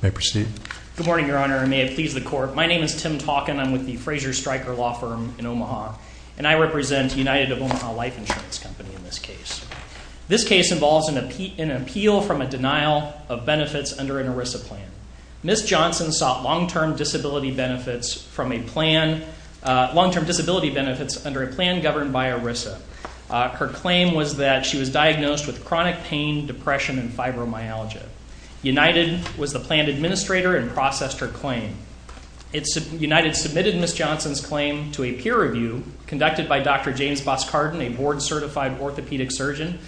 May I proceed? Good morning, Your Honor, and may it please the Court. My name is Tim Talkin. I'm with the Fraser Stryker Law Firm in Omaha, and I represent United of Omaha Life Insurance Company in this case. This case involves an appeal from a denial of benefits under an ERISA plan. Ms. Johnson sought long-term disability benefits under a plan governed by ERISA. Her claim was that she was diagnosed with chronic pain, depression, and fibromyalgia. United was the plan administrator and processed her claim. United submitted Ms. Johnson's claim to a peer review conducted by Dr. James Boskarden, a board-certified orthopedic surgeon,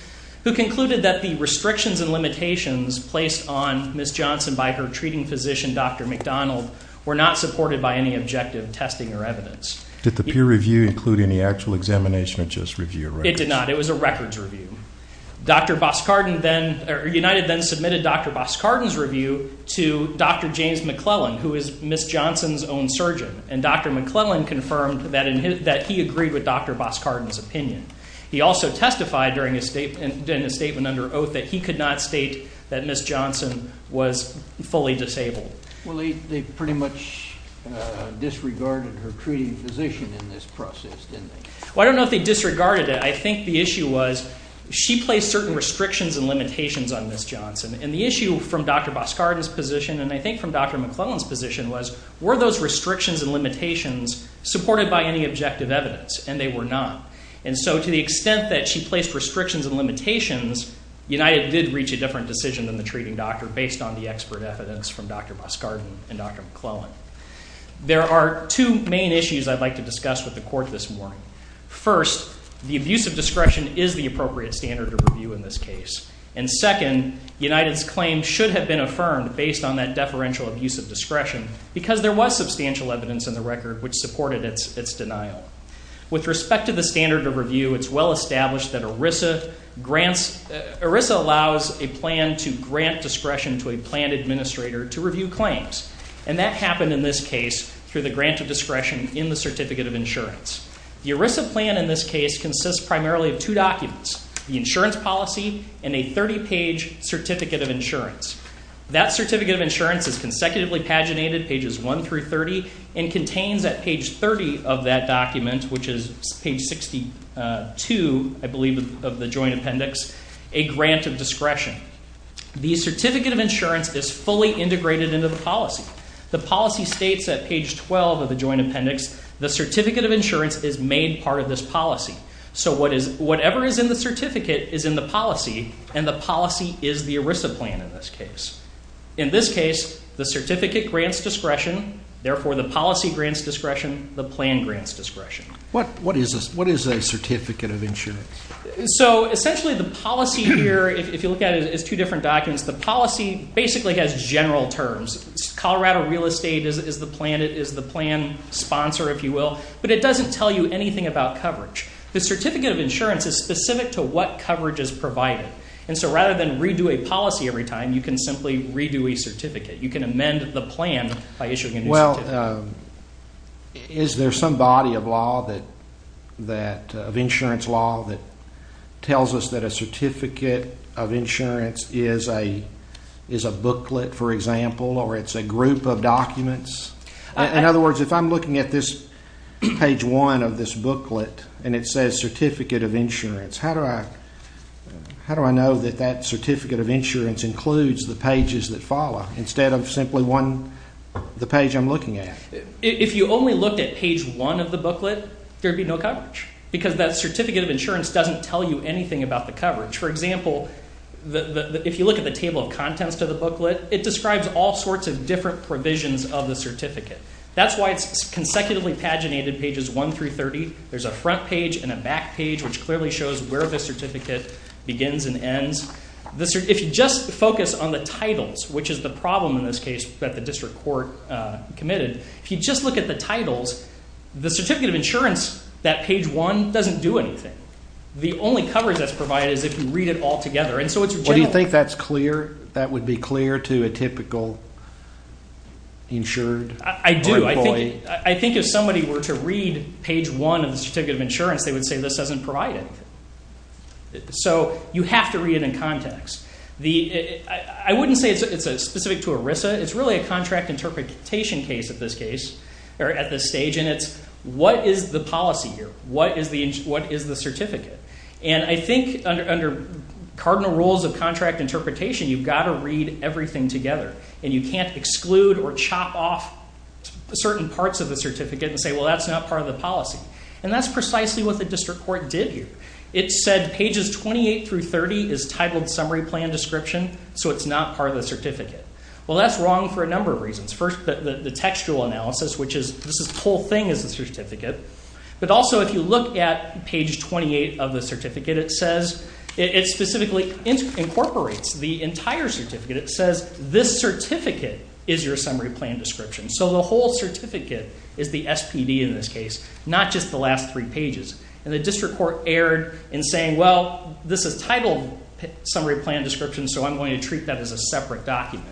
who concluded that the restrictions and limitations placed on Ms. Johnson by her treating physician, Dr. McDonald, were not supported by any objective testing or evidence. Did the peer review include any actual examination or just review of records? It did not. It was a records review. United then submitted Dr. Boskarden's review to Dr. James McClellan, who is Ms. Johnson's own surgeon, and Dr. McClellan confirmed that he agreed with Dr. Boskarden's opinion. He also testified in a statement under oath that he could not state that Ms. Johnson was fully disabled. Well, they pretty much disregarded her treating physician in this process, didn't they? Well, I don't know if they disregarded it. I think the issue was she placed certain restrictions and limitations on Ms. Johnson, and the issue from Dr. Boskarden's position, and I think from Dr. McClellan's position, was were those restrictions and limitations supported by any objective evidence, and they were not. And so to the extent that she placed restrictions and limitations, United did reach a different decision than the treating doctor based on the expert evidence from Dr. Boskarden and Dr. McClellan. There are two main issues I'd like to discuss with the court this morning. First, the abuse of discretion is the appropriate standard of review in this case, and second, United's claim should have been affirmed based on that deferential abuse of discretion because there was substantial evidence in the record which supported its denial. With respect to the standard of review, it's well established that ERISA grants ERISA allows a plan to grant discretion to a plan administrator to review claims, and that happened in this case through the grant of discretion in the Certificate of Insurance. The ERISA plan in this case consists primarily of two documents, the insurance policy and a 30-page Certificate of Insurance. That Certificate of Insurance is consecutively paginated, pages 1 through 30, and contains at page 30 of that document, which is page 62, I believe, of the Joint Appendix, a grant of discretion. The Certificate of Insurance is fully integrated into the policy. The policy states at page 12 of the Joint Appendix, the Certificate of Insurance is made part of this policy. So whatever is in the certificate is in the policy, and the policy is the ERISA plan in this case. In this case, the certificate grants discretion, therefore the policy grants discretion, the plan grants discretion. What is a Certificate of Insurance? So essentially the policy here, if you look at it, is two different documents. The policy basically has general terms. Colorado Real Estate is the plan sponsor, if you will. But it doesn't tell you anything about coverage. The Certificate of Insurance is specific to what coverage is provided. And so rather than redo a policy every time, you can simply redo a certificate. You can amend the plan by issuing a new certificate. Is there some body of law that, of insurance law, that tells us that a Certificate of Insurance is a booklet, for example, or it's a group of documents? In other words, if I'm looking at this page one of this booklet, and it says Certificate of Insurance, how do I know that that Certificate of Insurance includes the pages that follow, instead of simply the page I'm looking at? If you only looked at page one of the booklet, there would be no coverage. Because that Certificate of Insurance doesn't tell you anything about the coverage. For example, if you look at the table of contents to the booklet, it describes all sorts of different provisions of the certificate. That's why it's consecutively paginated pages one through 30. There's a front page and a back page, which clearly shows where the certificate begins and ends. If you just focus on the titles, which is the problem in this case that the district court committed, if you just look at the titles, the Certificate of Insurance, that page one, doesn't do anything. The only coverage that's provided is if you read it all together. Do you think that's clear? That would be clear to a typical insured? I do. I think if somebody were to read page one of the Certificate of Insurance, they would say this doesn't provide anything. You have to read it in context. I wouldn't say it's specific to ERISA. It's really a contract interpretation case at this stage, and it's what is the policy here? What is the certificate? I think under cardinal rules of contract interpretation, you've got to read everything together. You can't exclude or chop off certain parts of the certificate and say, well, that's not part of the policy. That's precisely what the district court did here. It said pages 28 through 30 is titled Summary Plan Description, so it's not part of the certificate. That's wrong for a number of reasons. First, the textual analysis, which is this whole thing is a certificate. Also, if you look at page 28 of the certificate, it specifically incorporates the entire certificate. It says this certificate is your Summary Plan Description. So the whole certificate is the SPD in this case, not just the last three pages. The district court erred in saying, well, this is titled Summary Plan Description, so I'm going to treat that as a separate document.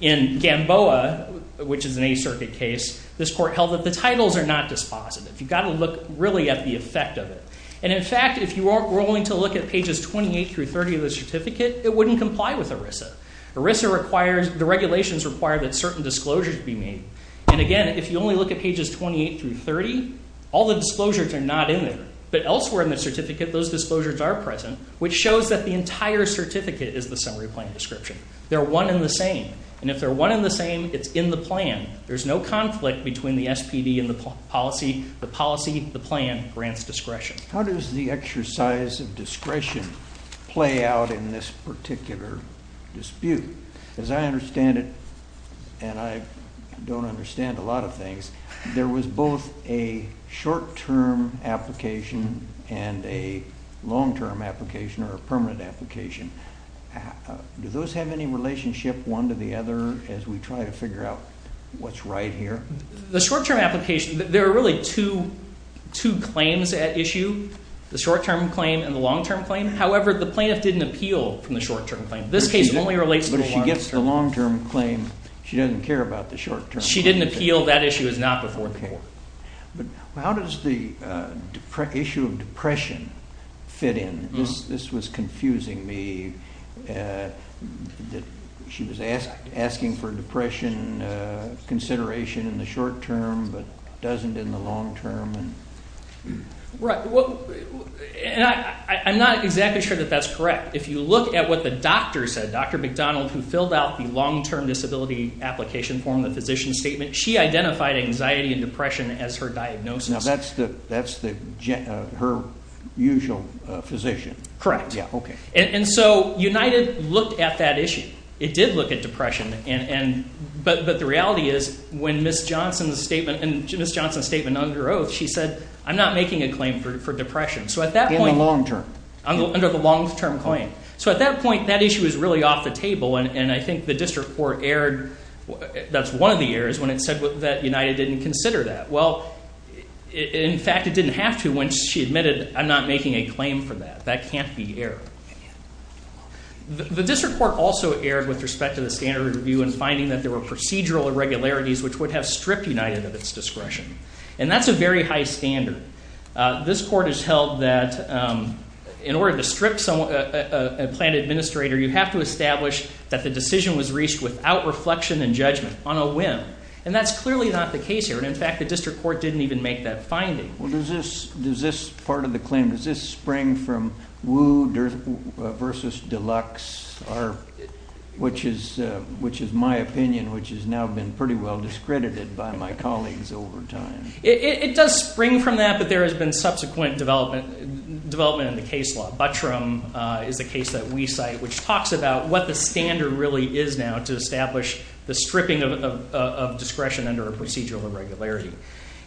In Gamboa, which is an A Circuit case, this court held that the titles are not dispositive. You've got to look really at the effect of it. In fact, if you were only to look at pages 28 through 30 of the certificate, it wouldn't comply with ERISA. The regulations require that certain disclosures be made. And again, if you only look at pages 28 through 30, all the disclosures are not in there. But elsewhere in the certificate, those disclosures are present, which shows that the entire certificate is the Summary Plan Description. They're one and the same, and if they're one and the same, it's in the plan. There's no conflict between the SPD and the policy. The policy, the plan grants discretion. How does the exercise of discretion play out in this particular dispute? As I understand it, and I don't understand a lot of things, there was both a short-term application and a long-term application or a permanent application. Do those have any relationship, one to the other, as we try to figure out what's right here? The short-term application, there are really two claims at issue, the short-term claim and the long-term claim. However, the plaintiff didn't appeal from the short-term claim. This case only relates to the long-term claim. But if she gets the long-term claim, she doesn't care about the short-term claim? She didn't appeal. That issue is not before the court. Okay. But how does the issue of depression fit in? This was confusing me. She was asking for depression consideration in the short-term but doesn't in the long-term. Right. I'm not exactly sure that that's correct. If you look at what the doctor said, Dr. McDonald, who filled out the long-term disability application form, the physician's statement, she identified anxiety and depression as her diagnosis. Now that's her usual physician? Correct. Okay. And so United looked at that issue. It did look at depression. But the reality is when Ms. Johnson's statement under oath, she said, I'm not making a claim for depression. In the long-term? Under the long-term claim. So at that point, that issue was really off the table, and I think the district court erred, that's one of the errors, when it said that United didn't consider that. Well, in fact, it didn't have to when she admitted, I'm not making a claim for that. That can't be errored. The district court also erred with respect to the standard review in finding that there were procedural irregularities which would have stripped United of its discretion. And that's a very high standard. This court has held that in order to strip a planned administrator, you have to establish that the decision was reached without reflection and judgment, on a whim. And that's clearly not the case here. And, in fact, the district court didn't even make that finding. Well, does this part of the claim, does this spring from Woo versus Deluxe, which is my opinion, which has now been pretty well discredited by my colleagues over time? It does spring from that, but there has been subsequent development in the case law. Buttram is a case that we cite which talks about what the standard really is now to establish the stripping of discretion under a procedural irregularity.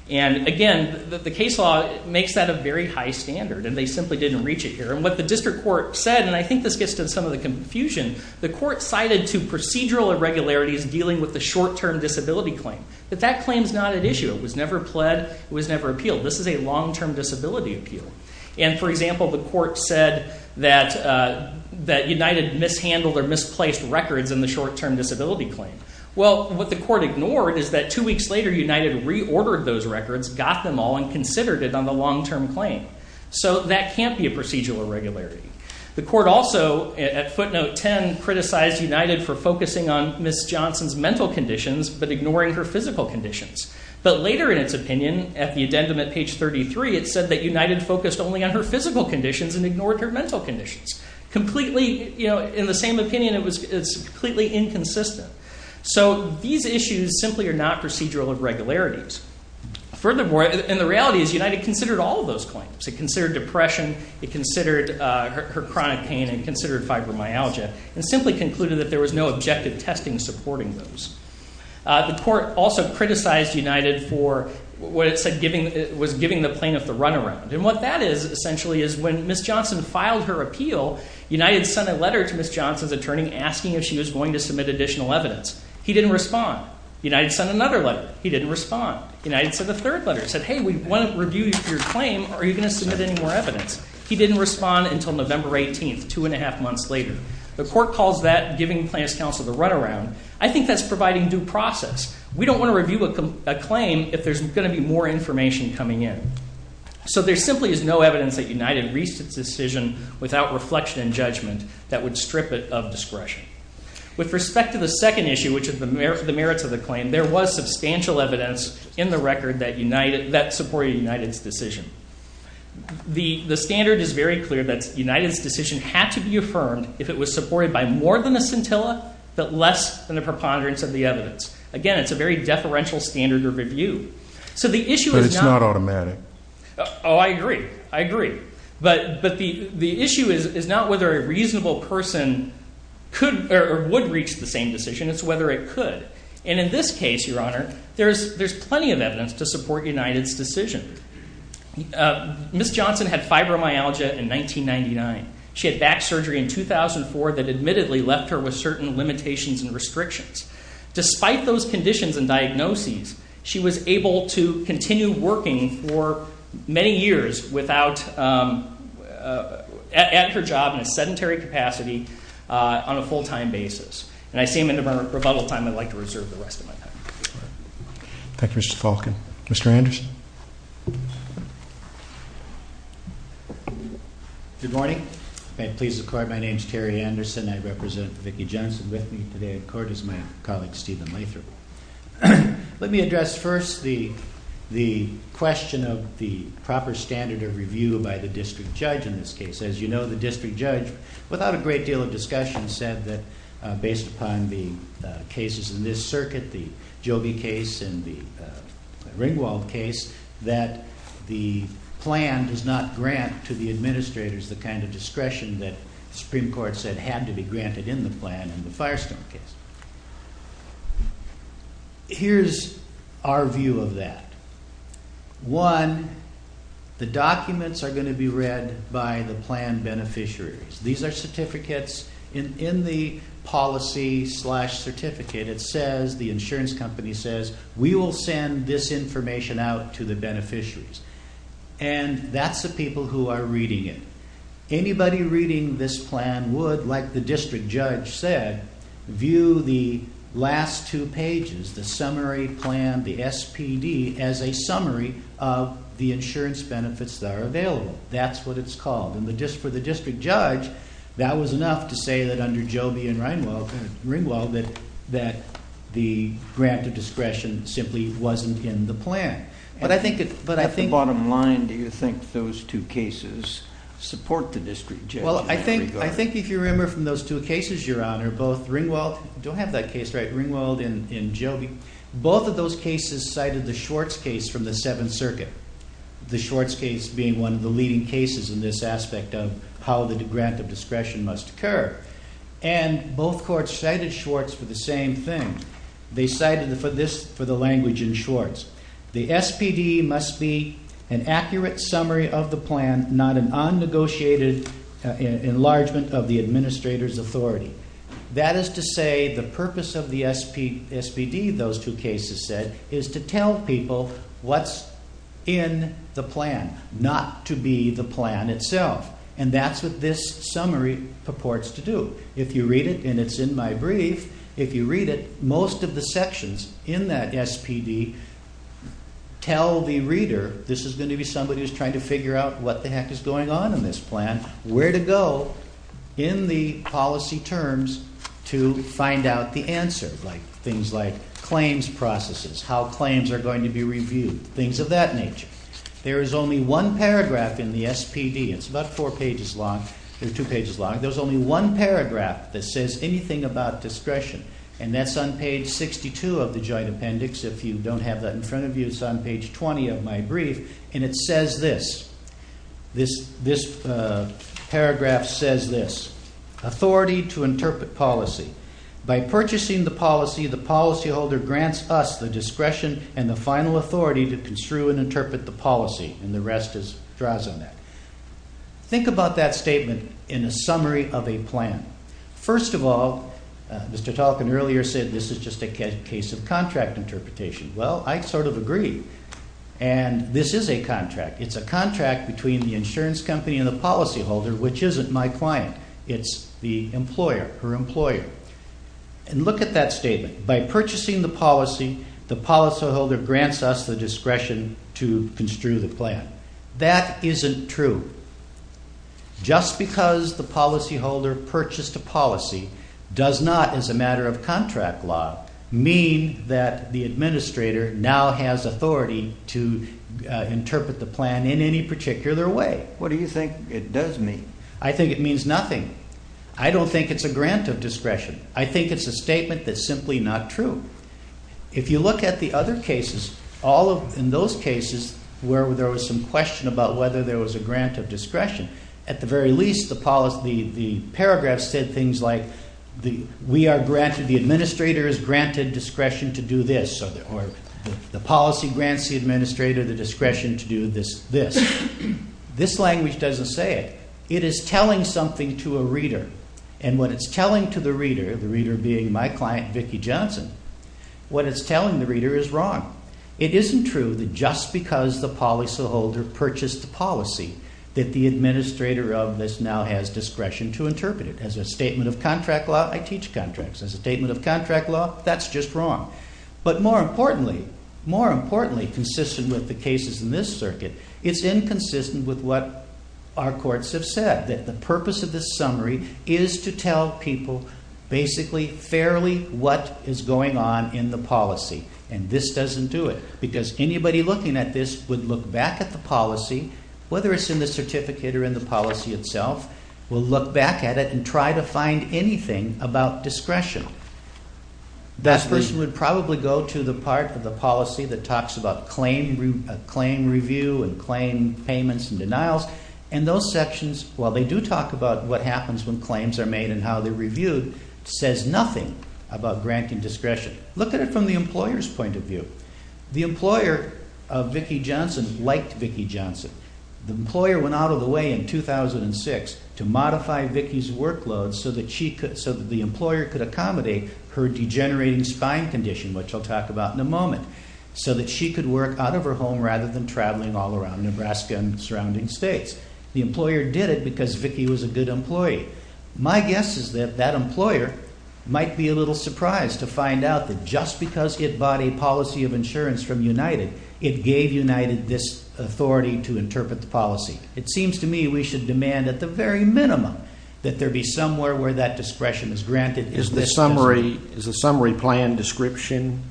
And, again, the case law makes that a very high standard, and they simply didn't reach it here. And what the district court said, and I think this gets to some of the confusion, the court cited to procedural irregularities dealing with the short-term disability claim. But that claim is not at issue. It was never pled. It was never appealed. This is a long-term disability appeal. And, for example, the court said that United mishandled or misplaced records in the short-term disability claim. Well, what the court ignored is that two weeks later United reordered those records, got them all, and considered it on the long-term claim. So that can't be a procedural irregularity. The court also, at footnote 10, criticized United for focusing on Ms. Johnson's mental conditions but ignoring her physical conditions. But later in its opinion, at the addendum at page 33, it said that United focused only on her physical conditions and ignored her mental conditions. Completely, you know, in the same opinion, it's completely inconsistent. So these issues simply are not procedural irregularities. Furthermore, and the reality is United considered all of those claims. It considered depression. It considered her chronic pain and considered fibromyalgia and simply concluded that there was no objective testing supporting those. The court also criticized United for what it said was giving the plaintiff the runaround. And what that is essentially is when Ms. Johnson filed her appeal, United sent a letter to Ms. Johnson's attorney asking if she was going to submit additional evidence. He didn't respond. United sent another letter. He didn't respond. United sent a third letter. It said, hey, we want to review your claim. Are you going to submit any more evidence? He didn't respond until November 18th, two and a half months later. The court calls that giving plaintiff's counsel the runaround. I think that's providing due process. We don't want to review a claim if there's going to be more information coming in. So there simply is no evidence that United reached its decision without reflection and judgment that would strip it of discretion. With respect to the second issue, which is the merits of the claim, there was substantial evidence in the record that supported United's decision. The standard is very clear that United's decision had to be affirmed if it was supported by more than a scintilla but less than the preponderance of the evidence. Again, it's a very deferential standard of review. But it's not automatic. Oh, I agree. I agree. But the issue is not whether a reasonable person could or would reach the same decision. It's whether it could. And in this case, Your Honor, there's plenty of evidence to support United's decision. Ms. Johnson had fibromyalgia in 1999. She had back surgery in 2004 that admittedly left her with certain limitations and restrictions. Despite those conditions and diagnoses, she was able to continue working for many years without at her job in a sedentary capacity on a full-time basis. And I seem in a rebuttal time I'd like to reserve the rest of my time. Thank you, Mr. Falken. Mr. Anderson? Good morning. If I please the Court, my name is Terry Anderson. I represent Vicki Johnson with me today in court as my colleague Stephen Lathrop. Let me address first the question of the proper standard of review by the district judge in this case. As you know, the district judge, without a great deal of discussion, said that based upon the cases in this circuit, the Joby case and the Ringwald case, that the plan does not grant to the administrators the kind of discretion that the Supreme Court said had to be granted in the plan in the Firestone case. Here's our view of that. One, the documents are going to be read by the plan beneficiaries. These are certificates. In the policy-slash-certificate, it says, the insurance company says, we will send this information out to the beneficiaries. And that's the people who are reading it. Anybody reading this plan would, like the district judge said, view the last two pages, the summary plan, the SPD, as a summary of the insurance benefits that are available. That's what it's called. For the district judge, that was enough to say that under Joby and Ringwald that the grant of discretion simply wasn't in the plan. At the bottom line, do you think those two cases support the district judge? I think if you remember from those two cases, Your Honor, both Ringwald and Joby, both of those cases cited the Schwartz case from the Seventh Circuit, the Schwartz case being one of the leading cases in this aspect of how the grant of discretion must occur. And both courts cited Schwartz for the same thing. They cited it for the language in Schwartz. The SPD must be an accurate summary of the plan, not an unnegotiated enlargement of the administrator's authority. That is to say, the purpose of the SPD, those two cases said, is to tell people what's in the plan, not to be the plan itself. And that's what this summary purports to do. If you read it, and it's in my brief, if you read it, most of the sections in that SPD tell the reader, this is going to be somebody who's trying to figure out what the heck is going on in this plan, where to go in the policy terms to find out the answer. Things like claims processes, how claims are going to be reviewed, things of that nature. There is only one paragraph in the SPD, it's about four pages long, or two pages long, there's only one paragraph that says anything about discretion. And that's on page 62 of the joint appendix. If you don't have that in front of you, it's on page 20 of my brief. And it says this, this paragraph says this, authority to interpret policy. By purchasing the policy, the policyholder grants us the discretion and the final authority to construe and interpret the policy. And the rest draws on that. Think about that statement in a summary of a plan. First of all, Mr. Tolkien earlier said this is just a case of contract interpretation. Well, I sort of agree. And this is a contract. It's a contract between the insurance company and the policyholder, which isn't my client. It's the employer, her employer. And look at that statement. By purchasing the policy, the policyholder grants us the discretion to construe the plan. That isn't true. Just because the policyholder purchased a policy does not, as a matter of contract law, mean that the administrator now has authority to interpret the plan in any particular way. What do you think it does mean? I think it means nothing. I don't think it's a grant of discretion. I think it's a statement that's simply not true. If you look at the other cases, all of those cases where there was some question about whether there was a grant of discretion, at the very least, the paragraphs said things like, the administrator is granted discretion to do this, or the policy grants the administrator the discretion to do this. This language doesn't say it. It is telling something to a reader. And what it's telling to the reader, the reader being my client, Vicki Johnson, what it's telling the reader is wrong. It isn't true that just because the policyholder purchased the policy that the administrator of this now has discretion to interpret it. As a statement of contract law, I teach contracts. As a statement of contract law, that's just wrong. But more importantly, more importantly, consistent with the cases in this circuit, it's inconsistent with what our courts have said, that the purpose of this summary is to tell people basically fairly what is going on in the policy. And this doesn't do it. Because anybody looking at this would look back at the policy, whether it's in the certificate or in the policy itself, will look back at it and try to find anything about discretion. That person would probably go to the part of the policy that talks about claim review and claim payments and denials, and those sections, while they do talk about what happens when claims are made and how they're reviewed, says nothing about granting discretion. Look at it from the employer's point of view. The employer of Vicki Johnson liked Vicki Johnson. The employer went out of the way in 2006 to modify Vicki's workload so that the employer could accommodate her degenerating spine condition, which I'll talk about in a moment, so that she could work out of her home rather than traveling all around Nebraska and surrounding states. The employer did it because Vicki was a good employee. My guess is that that employer might be a little surprised to find out that just because it bought a policy of insurance from United, it gave United this authority to interpret the policy. It seems to me we should demand at the very minimum that there be somewhere where that discretion is granted. Is the summary plan description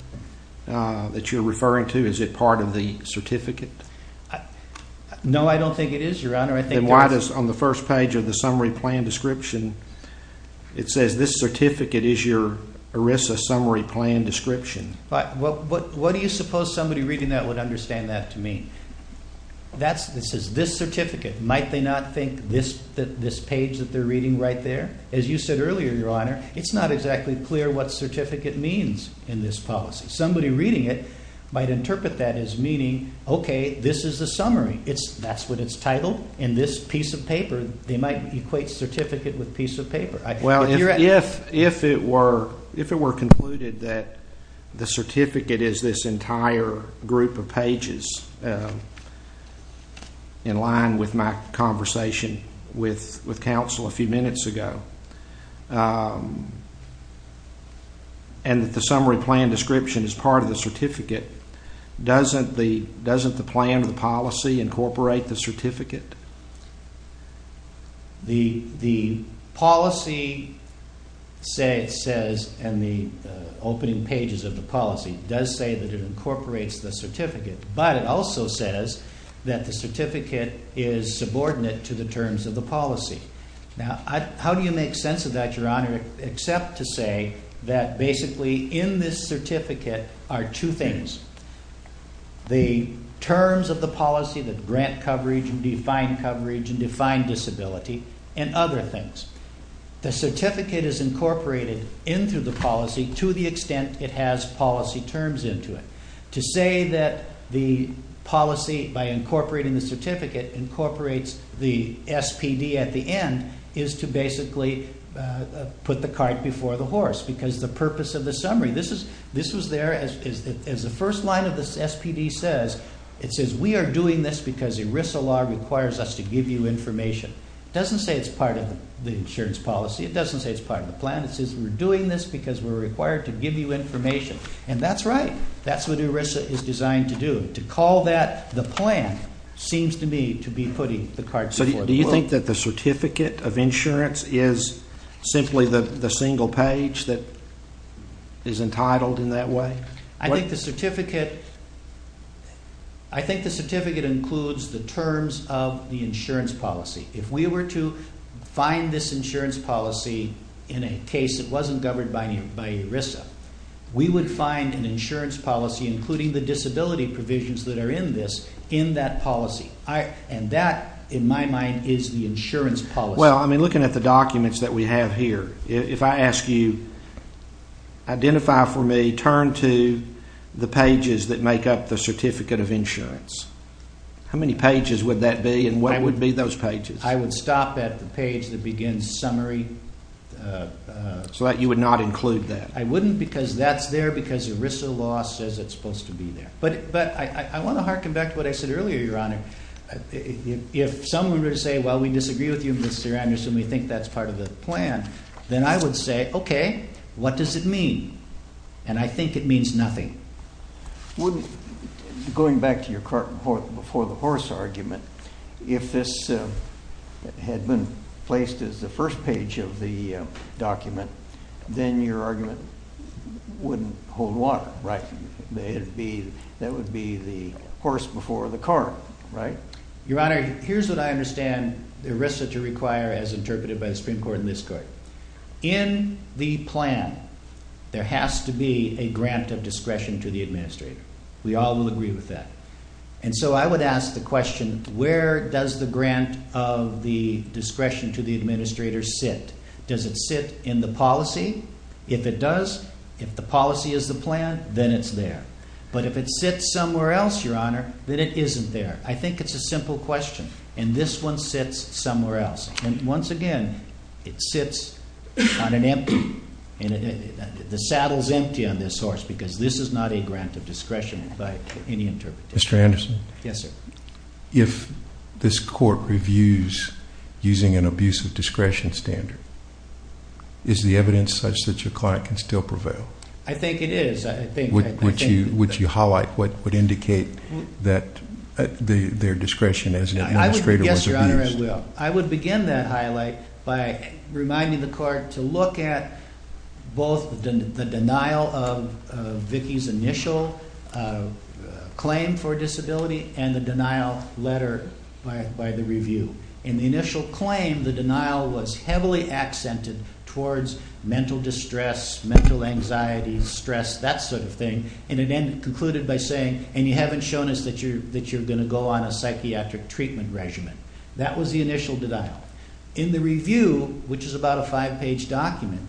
that you're referring to, is it part of the certificate? No, I don't think it is, Your Honor. Then why does on the first page of the summary plan description it says, this certificate is your ERISA summary plan description? What do you suppose somebody reading that would understand that to mean? It says this certificate. Might they not think this page that they're reading right there? As you said earlier, Your Honor, it's not exactly clear what certificate means in this policy. Somebody reading it might interpret that as meaning, okay, this is the summary. That's what it's titled in this piece of paper. They might equate certificate with piece of paper. Well, if it were concluded that the certificate is this entire group of pages, in line with my conversation with counsel a few minutes ago, and that the summary plan description is part of the certificate, doesn't the plan or the policy incorporate the certificate? The policy says, and the opening pages of the policy does say that it incorporates the certificate, but it also says that the certificate is subordinate to the terms of the policy. Now, how do you make sense of that, Your Honor, except to say that basically in this certificate are two things, the terms of the policy, the grant coverage and defined coverage and defined disability, and other things. The certificate is incorporated into the policy to the extent it has policy terms into it. To say that the policy, by incorporating the certificate, incorporates the SPD at the end, is to basically put the cart before the horse, because the purpose of the summary, this was there as the first line of the SPD says, it says we are doing this because ERISA law requires us to give you information. It doesn't say it's part of the insurance policy. It doesn't say it's part of the plan. It says we're doing this because we're required to give you information. And that's right. That's what ERISA is designed to do. To call that the plan seems to me to be putting the cart before the horse. So do you think that the certificate of insurance is simply the single page that is entitled in that way? I think the certificate includes the terms of the insurance policy. If we were to find this insurance policy in a case that wasn't governed by ERISA, we would find an insurance policy, including the disability provisions that are in this, in that policy. And that, in my mind, is the insurance policy. Well, I mean, looking at the documents that we have here, if I ask you, identify for me, turn to the pages that make up the certificate of insurance, how many pages would that be and what would be those pages? I would stop at the page that begins summary. So you would not include that? I wouldn't because that's there because ERISA law says it's supposed to be there. But I want to harken back to what I said earlier, Your Honor. If someone were to say, well, we disagree with you, Mr. Anderson, we think that's part of the plan, then I would say, okay, what does it mean? And I think it means nothing. Going back to your cart before the horse argument, if this had been placed as the first page of the document, then your argument wouldn't hold water, right? That would be the horse before the cart, right? Your Honor, here's what I understand ERISA to require as interpreted by the Supreme Court and this Court. In the plan, there has to be a grant of discretion to the administrator. We all will agree with that. And so I would ask the question, where does the grant of the discretion to the administrator sit? Does it sit in the policy? If it does, if the policy is the plan, then it's there. But if it sits somewhere else, Your Honor, then it isn't there. I think it's a simple question. And this one sits somewhere else. And once again, it sits on an empty. The saddle is empty on this horse because this is not a grant of discretion by any interpreter. Mr. Anderson? Yes, sir. If this Court reviews using an abuse of discretion standard, is the evidence such that your client can still prevail? I think it is. Would you highlight what would indicate that their discretion as an administrator was abused? Yes, Your Honor, I will. I would like to begin that highlight by reminding the Court to look at both the denial of Vicki's initial claim for disability and the denial letter by the review. In the initial claim, the denial was heavily accented towards mental distress, mental anxiety, stress, that sort of thing. And it concluded by saying, and you haven't shown us that you're going to go on a psychiatric treatment regimen. That was the initial denial. In the review, which is about a five-page document,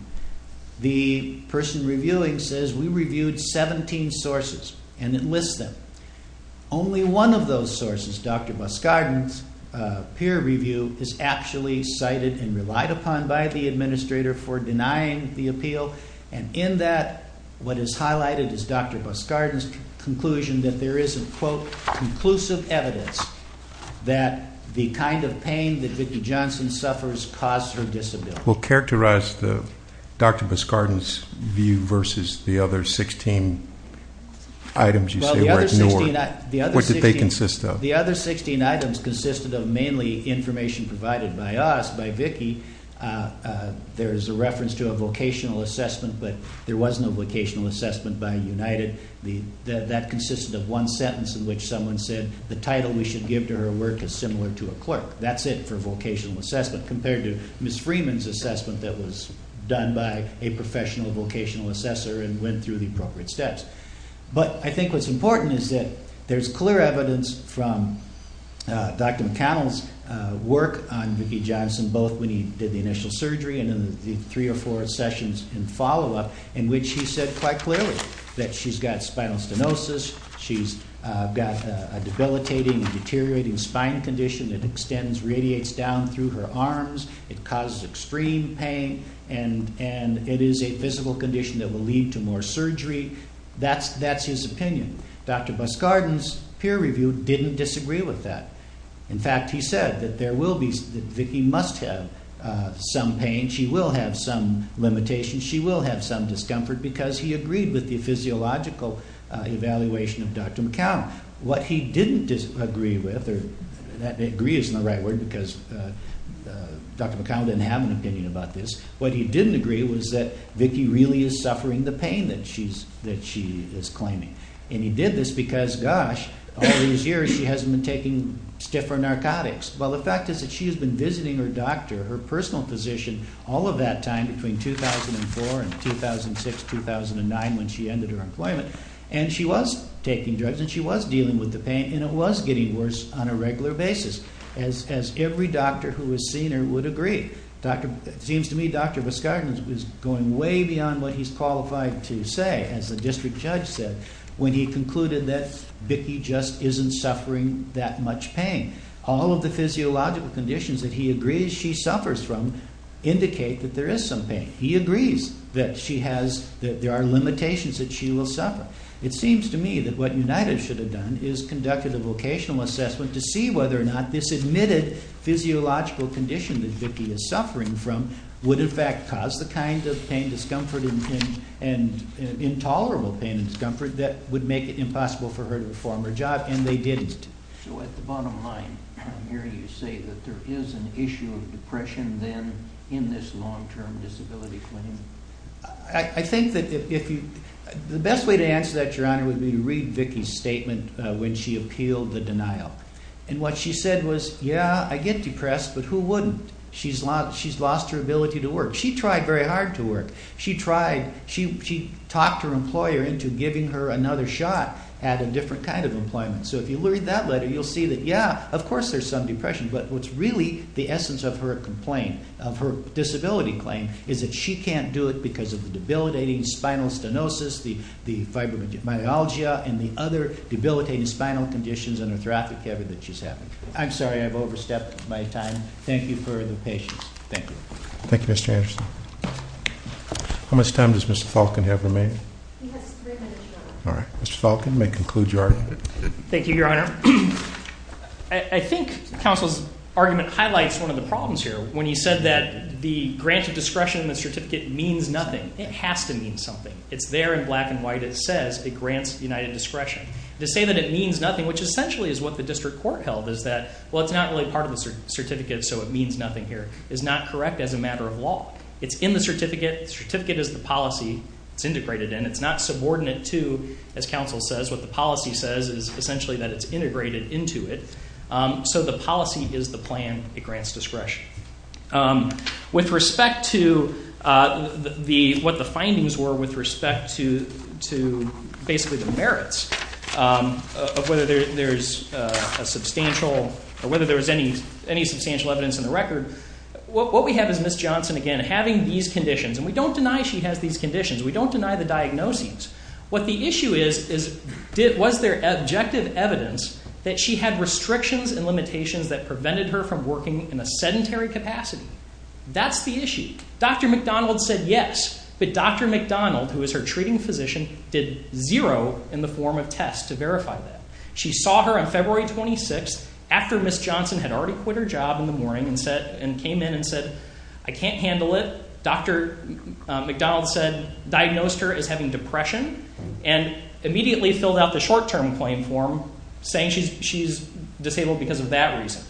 the person reviewing says, we reviewed 17 sources, and it lists them. Only one of those sources, Dr. Buscardin's peer review, is actually cited and relied upon by the administrator for denying the appeal. And in that, what is highlighted is Dr. Buscardin's conclusion that there is a, quote, conclusive evidence that the kind of pain that Vicki Johnson suffers caused her disability. Well, characterize Dr. Buscardin's view versus the other 16 items you say were ignored. What did they consist of? The other 16 items consisted of mainly information provided by us, by Vicki. There is a reference to a vocational assessment, but there was no vocational assessment by United. That consisted of one sentence in which someone said, the title we should give to her work is similar to a clerk. That's it for vocational assessment compared to Ms. Freeman's assessment that was done by a professional vocational assessor and went through the appropriate steps. But I think what's important is that there's clear evidence from Dr. McConnell's work on Vicki Johnson. Both when he did the initial surgery and in the three or four sessions in follow-up in which he said quite clearly that she's got spinal stenosis. She's got a debilitating, deteriorating spine condition that extends, radiates down through her arms. It causes extreme pain and it is a physical condition that will lead to more surgery. That's his opinion. Dr. Buscardin's peer review didn't disagree with that. In fact, he said that Vicki must have some pain. She will have some limitations. She will have some discomfort because he agreed with the physiological evaluation of Dr. McConnell. What he didn't agree with, or agree isn't the right word because Dr. McConnell didn't have an opinion about this. What he didn't agree with was that Vicki really is suffering the pain that she is claiming. He did this because, gosh, all these years she hasn't been taking stiffer narcotics. Well, the fact is that she has been visiting her doctor, her personal physician, all of that time between 2004 and 2006, 2009 when she ended her employment. She was taking drugs and she was dealing with the pain and it was getting worse on a regular basis as every doctor who has seen her would agree. It seems to me Dr. Buscardin is going way beyond what he's qualified to say. As the district judge said, when he concluded that Vicki just isn't suffering that much pain. All of the physiological conditions that he agrees she suffers from indicate that there is some pain. He agrees that there are limitations that she will suffer. It seems to me that what United should have done is conducted a vocational assessment to see whether or not this admitted physiological condition that Vicki is suffering from would in fact cause the kind of pain, discomfort and intolerable pain and discomfort that would make it impossible for her to perform her job. And they didn't. So at the bottom line here you say that there is an issue of depression then in this long-term disability claim? I think that the best way to answer that, Your Honor, would be to read Vicki's statement when she appealed the denial. And what she said was, yeah, I get depressed, but who wouldn't? She's lost her ability to work. She tried very hard to work. She talked her employer into giving her another shot at a different kind of employment. So if you read that letter you'll see that, yeah, of course there's some depression, but what's really the essence of her disability claim is that she can't do it because of the debilitating spinal stenosis, the fibromyalgia and the other debilitating spinal conditions and arthraphy that she's having. I'm sorry I've overstepped my time. Thank you for the patience. Thank you. Thank you, Mr. Anderson. How much time does Mr. Falcon have remaining? He has three minutes, Your Honor. All right. Mr. Falcon, you may conclude your argument. Thank you, Your Honor. I think counsel's argument highlights one of the problems here. When you said that the grant of discretion in the certificate means nothing, it has to mean something. It's there in black and white. It says it grants united discretion. To say that it means nothing, which essentially is what the district court held, is that, well, it's not really part of the certificate so it means nothing here, is not correct as a matter of law. It's in the certificate. The certificate is the policy. It's integrated in. It's not subordinate to, as counsel says, what the policy says is essentially that it's integrated into it. So the policy is the plan. It grants discretion. With respect to what the findings were with respect to basically the merits of whether there's a substantial or whether there was any substantial evidence in the record, what we have is Ms. Johnson, again, having these conditions. And we don't deny she has these conditions. We don't deny the diagnoses. What the issue is, was there objective evidence that she had restrictions and limitations that prevented her from working in a sedentary capacity? That's the issue. Dr. McDonald said yes, but Dr. McDonald, who is her treating physician, did zero in the form of tests to verify that. She saw her on February 26th after Ms. Johnson had already quit her job in the morning and came in and said, I can't handle it. Dr. McDonald said, diagnosed her as having depression and immediately filled out the short-term claim form saying she's disabled because of that reason.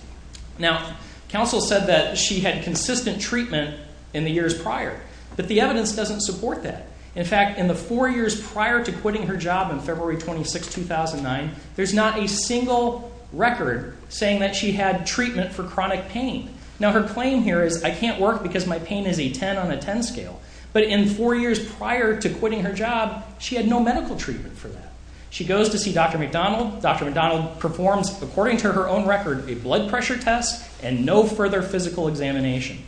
Now, counsel said that she had consistent treatment in the years prior, but the evidence doesn't support that. In fact, in the four years prior to quitting her job on February 26, 2009, there's not a single record saying that she had treatment for chronic pain. Now, her claim here is, I can't work because my pain is a 10 on a 10 scale. But in four years prior to quitting her job, she had no medical treatment for that. She goes to see Dr. McDonald. Dr. McDonald performs, according to her own record, a blood pressure test and no further physical examination.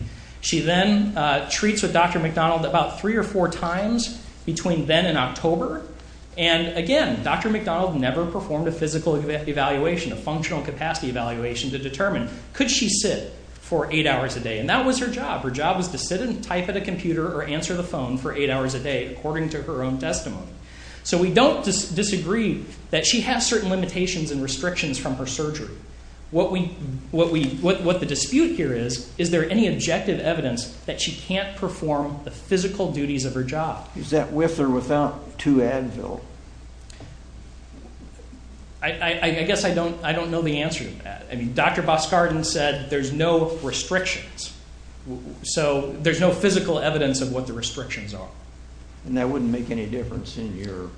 She then treats with Dr. McDonald about three or four times between then and October. And again, Dr. McDonald never performed a physical evaluation, a functional capacity evaluation to determine, could she sit for eight hours a day? And that was her job. Her job was to sit and type at a computer or answer the phone for eight hours a day, according to her own testimony. So we don't disagree that she has certain limitations and restrictions from her surgery. What the dispute here is, is there any objective evidence that she can't perform the physical duties of her job? Is that with or without two Advil? I guess I don't know the answer to that. I mean, Dr. Boskarden said there's no restrictions. So there's no physical evidence of what the restrictions are. And that wouldn't make any difference in your argument?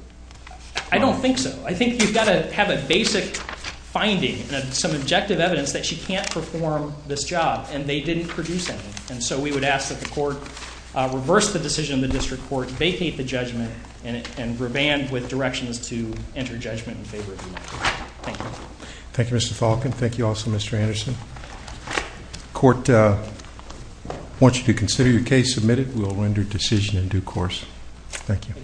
I don't think so. I think you've got to have a basic finding and some objective evidence that she can't perform this job, and they didn't produce any. And so we would ask that the court reverse the decision in the district court, vacate the judgment, and revamp with directions to enter judgment in favor of the United States. Thank you. Thank you, Mr. Falcon. Thank you also, Mr. Anderson. The court wants you to consider your case submitted. We will render decision in due course. Thank you.